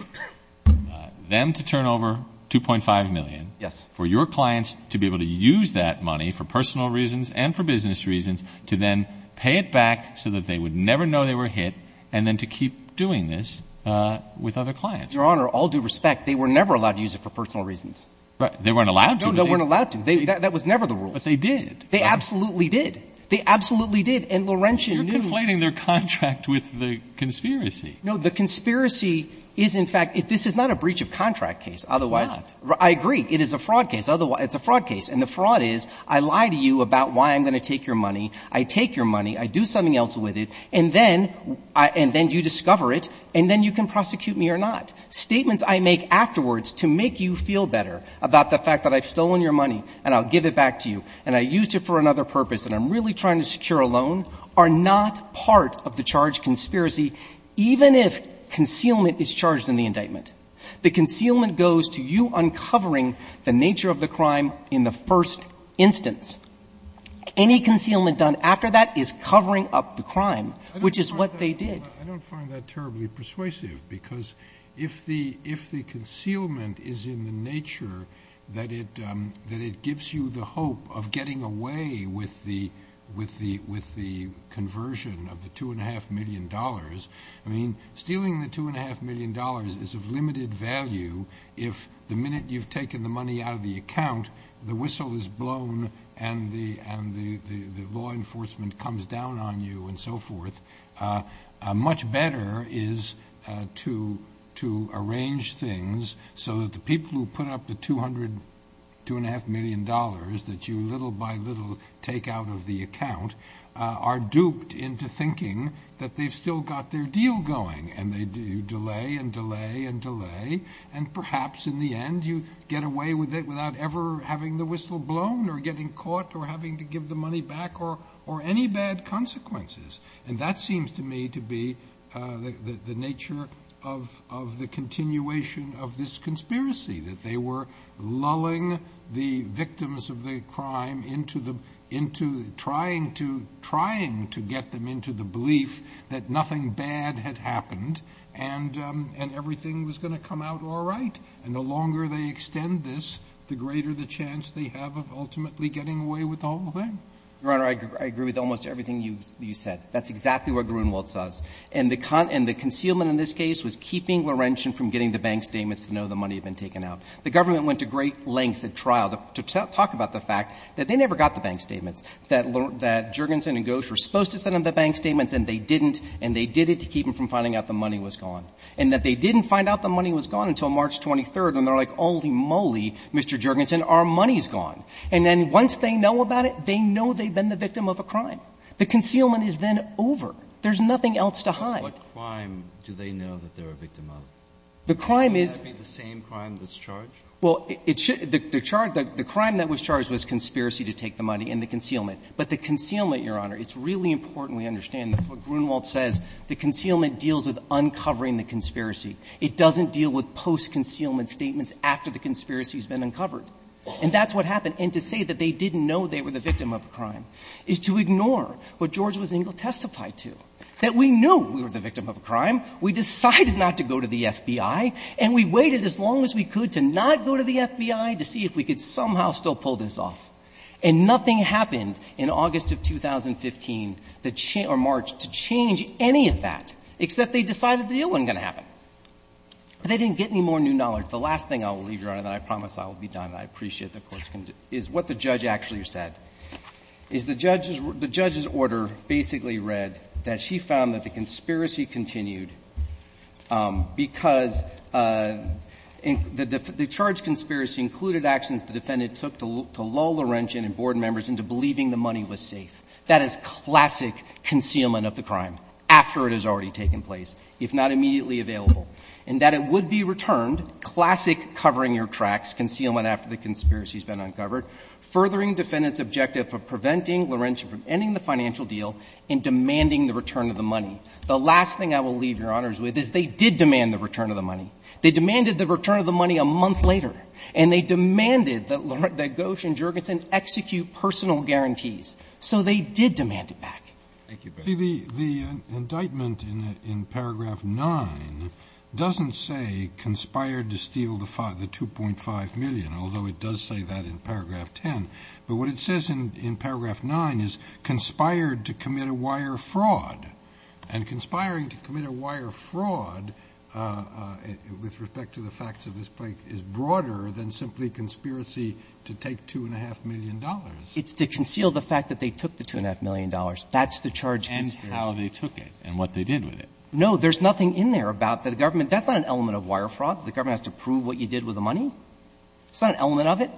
them to turn over $2.5 million for your clients to be able to use that money for personal reasons and for business reasons, to then pay it back so that they would never know they were hit, and then to keep doing this with other clients. Your Honor, all due respect, they were never allowed to use it for personal reasons. They weren't allowed to. No, they weren't allowed to. That was never the rules. But they did. They absolutely did. They absolutely did. And Laurentian knew. You're conflating their contract with the conspiracy. No, the conspiracy is, in fact, this is not a breach of contract case. It's not. I agree. It is a fraud case. It's a fraud case. And the fraud is I lie to you about why I'm going to take your money. I take your money. I do something else with it. And then you discover it, and then you can prosecute me or not. Statements I make afterwards to make you feel better about the fact that I've stolen your money, and I'll give it back to you, and I used it for another purpose, and I'm really trying to secure a loan are not part of the charged conspiracy, even if concealment is charged in the indictment. The concealment goes to you uncovering the nature of the crime in the first instance. Any concealment done after that is covering up the crime, which is what they did. I don't find that terribly persuasive, because if the concealment is in the nature that it gives you the hope of getting away with the conversion of the $2.5 million, I mean, stealing the $2.5 million is of limited value if the minute you've taken the money out of the account, the whistle is blown and the law enforcement comes down on you and so forth, much better is to arrange things so that the people who put up the $2.5 million that you little by little take out of the account are duped into thinking that they've still got their deal going, and they delay and delay and delay, and perhaps in the end you get away with it without ever having the whistle blown or getting caught or having to give the money back or any bad consequences. And that seems to me to be the nature of the continuation of this conspiracy, that they were lulling the victims of the crime into trying to get them into the belief that nothing bad had happened and everything was going to come out all right. And the longer they extend this, the greater the chance they have of ultimately getting away with the whole thing. Your Honor, I agree with almost everything you said. That's exactly what Gruenwald says. And the concealment in this case was keeping Laurentian from getting the bank statements to know the money had been taken out. The government went to great lengths at trial to talk about the fact that they never got the bank statements, that Juergensen and Ghosh were supposed to send them the bank statements and they didn't, and they did it to keep them from finding out the money was gone, and that they didn't find out the money was gone until March 23rd and they're like, holy moly, Mr. Juergensen, our money's gone. And then once they know about it, they know they've been the victim of a crime. The concealment is then over. There's nothing else to hide. Breyer. What crime do they know that they're a victim of? The crime is the same crime that's charged? Well, it should be. The crime that was charged was conspiracy to take the money and the concealment. But the concealment, Your Honor, it's really important we understand. That's what Gruenwald says. The concealment deals with uncovering the conspiracy. It doesn't deal with post-concealment statements after the conspiracy has been uncovered. And that's what happened. And to say that they didn't know they were the victim of a crime is to ignore what George W. Zingel testified to, that we knew we were the victim of a crime, we decided not to go to the FBI, and we waited as long as we could to not go to the FBI to see if we could somehow still pull this off. And nothing happened in August of 2015 or March to change any of that, except they decided the deal wasn't going to happen. They didn't get any more new knowledge. The last thing I will leave, Your Honor, and I promise I will be done, and I appreciate the Court's contention, is what the judge actually said, is the judge's order basically read that she found that the conspiracy continued because the charged conspiracy included actions the defendant took to lull Laurentian and board members into believing the money was safe. That is classic concealment of the crime after it has already taken place. If not immediately available. And that it would be returned, classic covering your tracks, concealment after the conspiracy has been uncovered. Furthering defendant's objective of preventing Laurentian from ending the financial deal and demanding the return of the money. The last thing I will leave, Your Honors, with is they did demand the return of the money. They demanded the return of the money a month later, and they demanded that Gauche and Jurgensen execute personal guarantees. So they did demand it back. Thank you. The indictment in paragraph 9 doesn't say conspired to steal the 2.5 million, although it does say that in paragraph 10. But what it says in paragraph 9 is conspired to commit a wire fraud. And conspiring to commit a wire fraud with respect to the facts of this case is broader than simply conspiracy to take $2.5 million. It's to conceal the fact that they took the $2.5 million. That's the charge. And how they took it and what they did with it. No, there's nothing in there about the government. That's not an element of wire fraud. The government has to prove what you did with the money. It's not an element of it.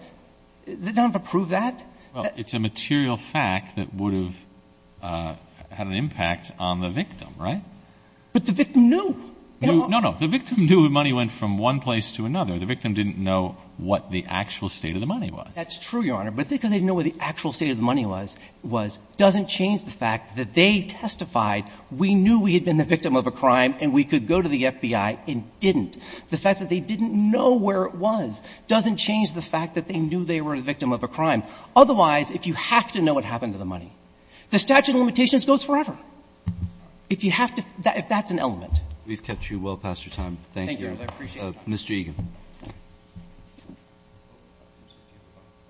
They don't have to prove that. Well, it's a material fact that would have had an impact on the victim, right? But the victim knew. No, no. The victim knew the money went from one place to another. The victim didn't know what the actual state of the money was. That's true, Your Honor. But because they didn't know what the actual state of the money was, doesn't change the fact that they testified we knew we had been the victim of a crime and we could go to the FBI and didn't. The fact that they didn't know where it was doesn't change the fact that they knew they were the victim of a crime. Otherwise, if you have to know what happened to the money, the statute of limitations goes forever. If you have to – if that's an element. We've kept you well past your time. Thank you. Thank you, Your Honor. I appreciate it. Mr. Egan. Are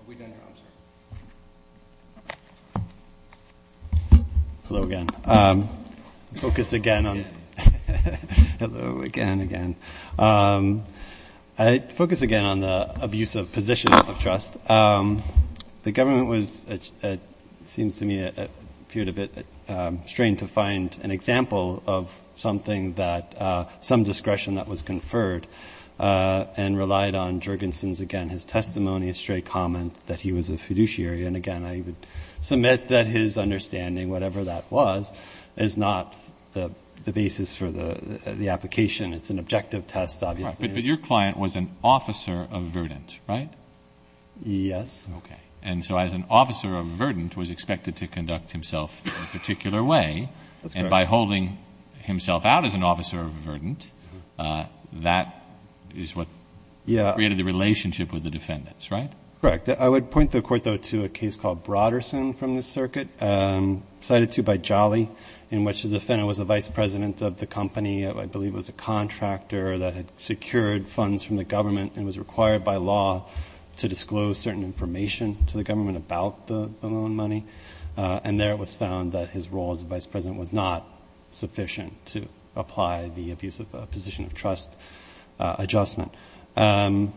we done, Your Honor? I'm sorry. Hello again. Focus again on – Hello again. Hello again, again. I'd focus again on the abuse of position of trust. The government was – it seems to me it appeared a bit strange to find an example of something that – some discretion that was conferred. And relied on Jurgensen's, again, his testimony, his straight comment that he was a fiduciary. And again, I would submit that his understanding, whatever that was, is not the basis for the application. It's an objective test, obviously. But your client was an officer of verdant, right? Yes. Okay. And so as an officer of verdant was expected to conduct himself in a particular way. That's correct. By holding himself out as an officer of verdant, that is what created the relationship with the defendants, right? Correct. I would point the court, though, to a case called Broderson from the circuit. Cited too by Jolly, in which the defendant was the vice president of the company. I believe it was a contractor that had secured funds from the government and was required by law to disclose certain information to the government about the loan money. And there it was found that his role as the vice president was not sufficient to apply the abusive position of trust adjustment. Well,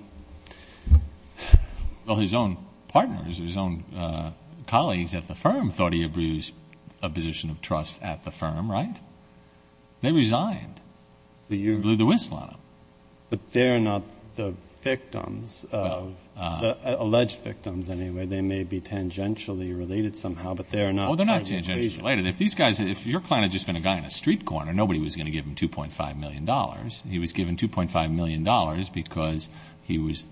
his own partners, his own colleagues at the firm, thought he abused a position of trust at the firm, right? They resigned. They blew the whistle on him. But they're not the victims of the alleged victims, anyway. They may be tangentially related somehow, but they are not. Oh, they're not tangentially related. If your client had just been a guy in a street corner, nobody was going to give him $2.5 million. He was given $2.5 million because he was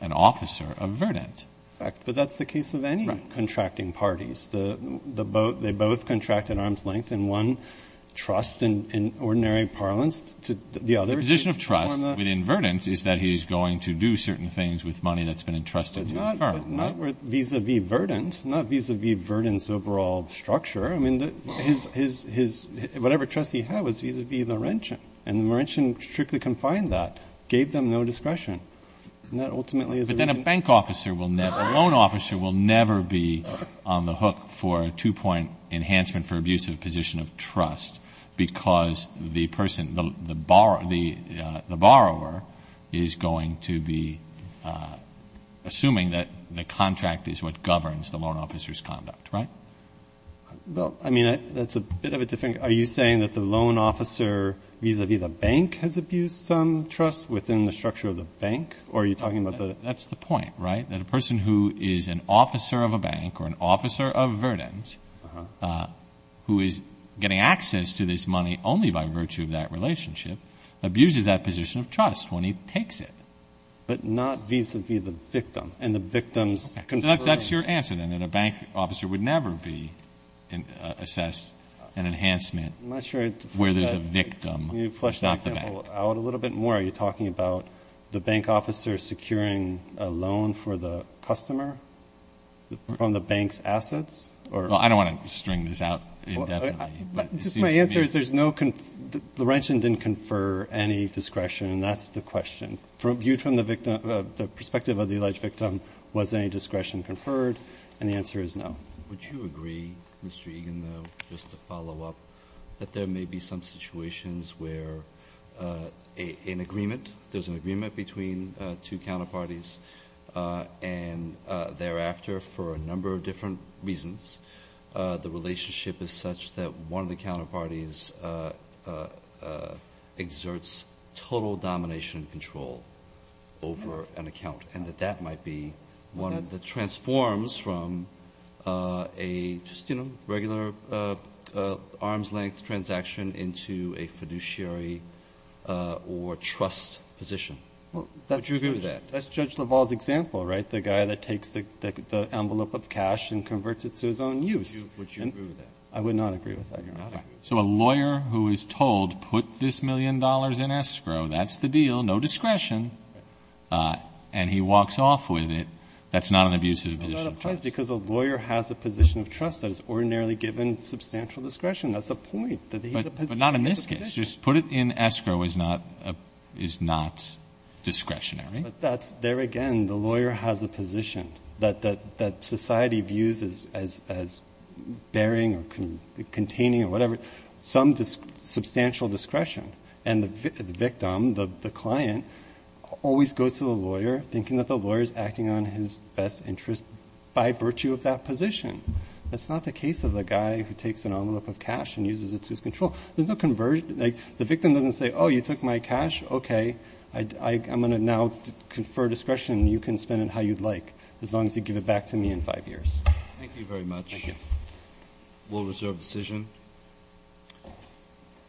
an officer of verdant. But that's the case of any contracting parties. They both contract at arm's length in one, trust in ordinary parlance. The position of trust within verdant is that he's going to do certain things with money that's been entrusted to the firm. But not vis-à-vis verdant, not vis-à-vis verdant's overall structure. I mean, whatever trust he had was vis-à-vis Laurentian, and Laurentian strictly confined that, gave them no discretion. And that ultimately is a reason. But then a bank officer will never, a loan officer will never be on the hook for a two-point enhancement for abusive position of trust because the person, the borrower is going to be assuming that the contract is what governs the loan officer's conduct, right? Well, I mean, that's a bit of a different. Are you saying that the loan officer vis-à-vis the bank has abused some trust within the structure of the bank? Or are you talking about the – That's the point, right, that a person who is an officer of a bank or an officer of verdant, who is getting access to this money only by virtue of that relationship, abuses that position of trust when he takes it. But not vis-à-vis the victim and the victim's control. That's your answer, then, that a bank officer would never be assessed an enhancement where there's a victim, not the bank. Can you flesh that out a little bit more? Are you talking about the bank officer securing a loan for the customer from the bank's assets? Well, I don't want to string this out indefinitely. Just my answer is there's no – Laurentian didn't confer any discretion, and that's the question. Viewed from the perspective of the alleged victim, was any discretion conferred? And the answer is no. Would you agree, Mr. Egan, though, just to follow up, that there may be some situations where an agreement, there's an agreement between two counterparties, and thereafter, for a number of different reasons, the relationship is such that one of the counterparties exerts total domination and control over an account, and that that might be one of the transforms from a just, you know, arms-length transaction into a fiduciary or trust position? Would you agree with that? Well, that's Judge LaValle's example, right, the guy that takes the envelope of cash and converts it to his own use. Would you agree with that? I would not agree with that. You're not agree. So a lawyer who is told, put this million dollars in escrow, that's the deal, no discretion, and he walks off with it, that's not an abusive position of trust. That's because a lawyer has a position of trust that is ordinarily given substantial discretion. That's the point, that he's a position. But not in this case. Just put it in escrow is not discretionary. But there again, the lawyer has a position that society views as bearing or containing or whatever, some substantial discretion. And the victim, the client, always goes to the lawyer, thinking that the lawyer is acting on his best interest by virtue of that position. That's not the case of the guy who takes an envelope of cash and uses it to his control. There's no conversion. The victim doesn't say, oh, you took my cash, okay, I'm going to now confer discretion and you can spend it how you'd like as long as you give it back to me in five years. Thank you very much. Thank you. We'll reserve the decision.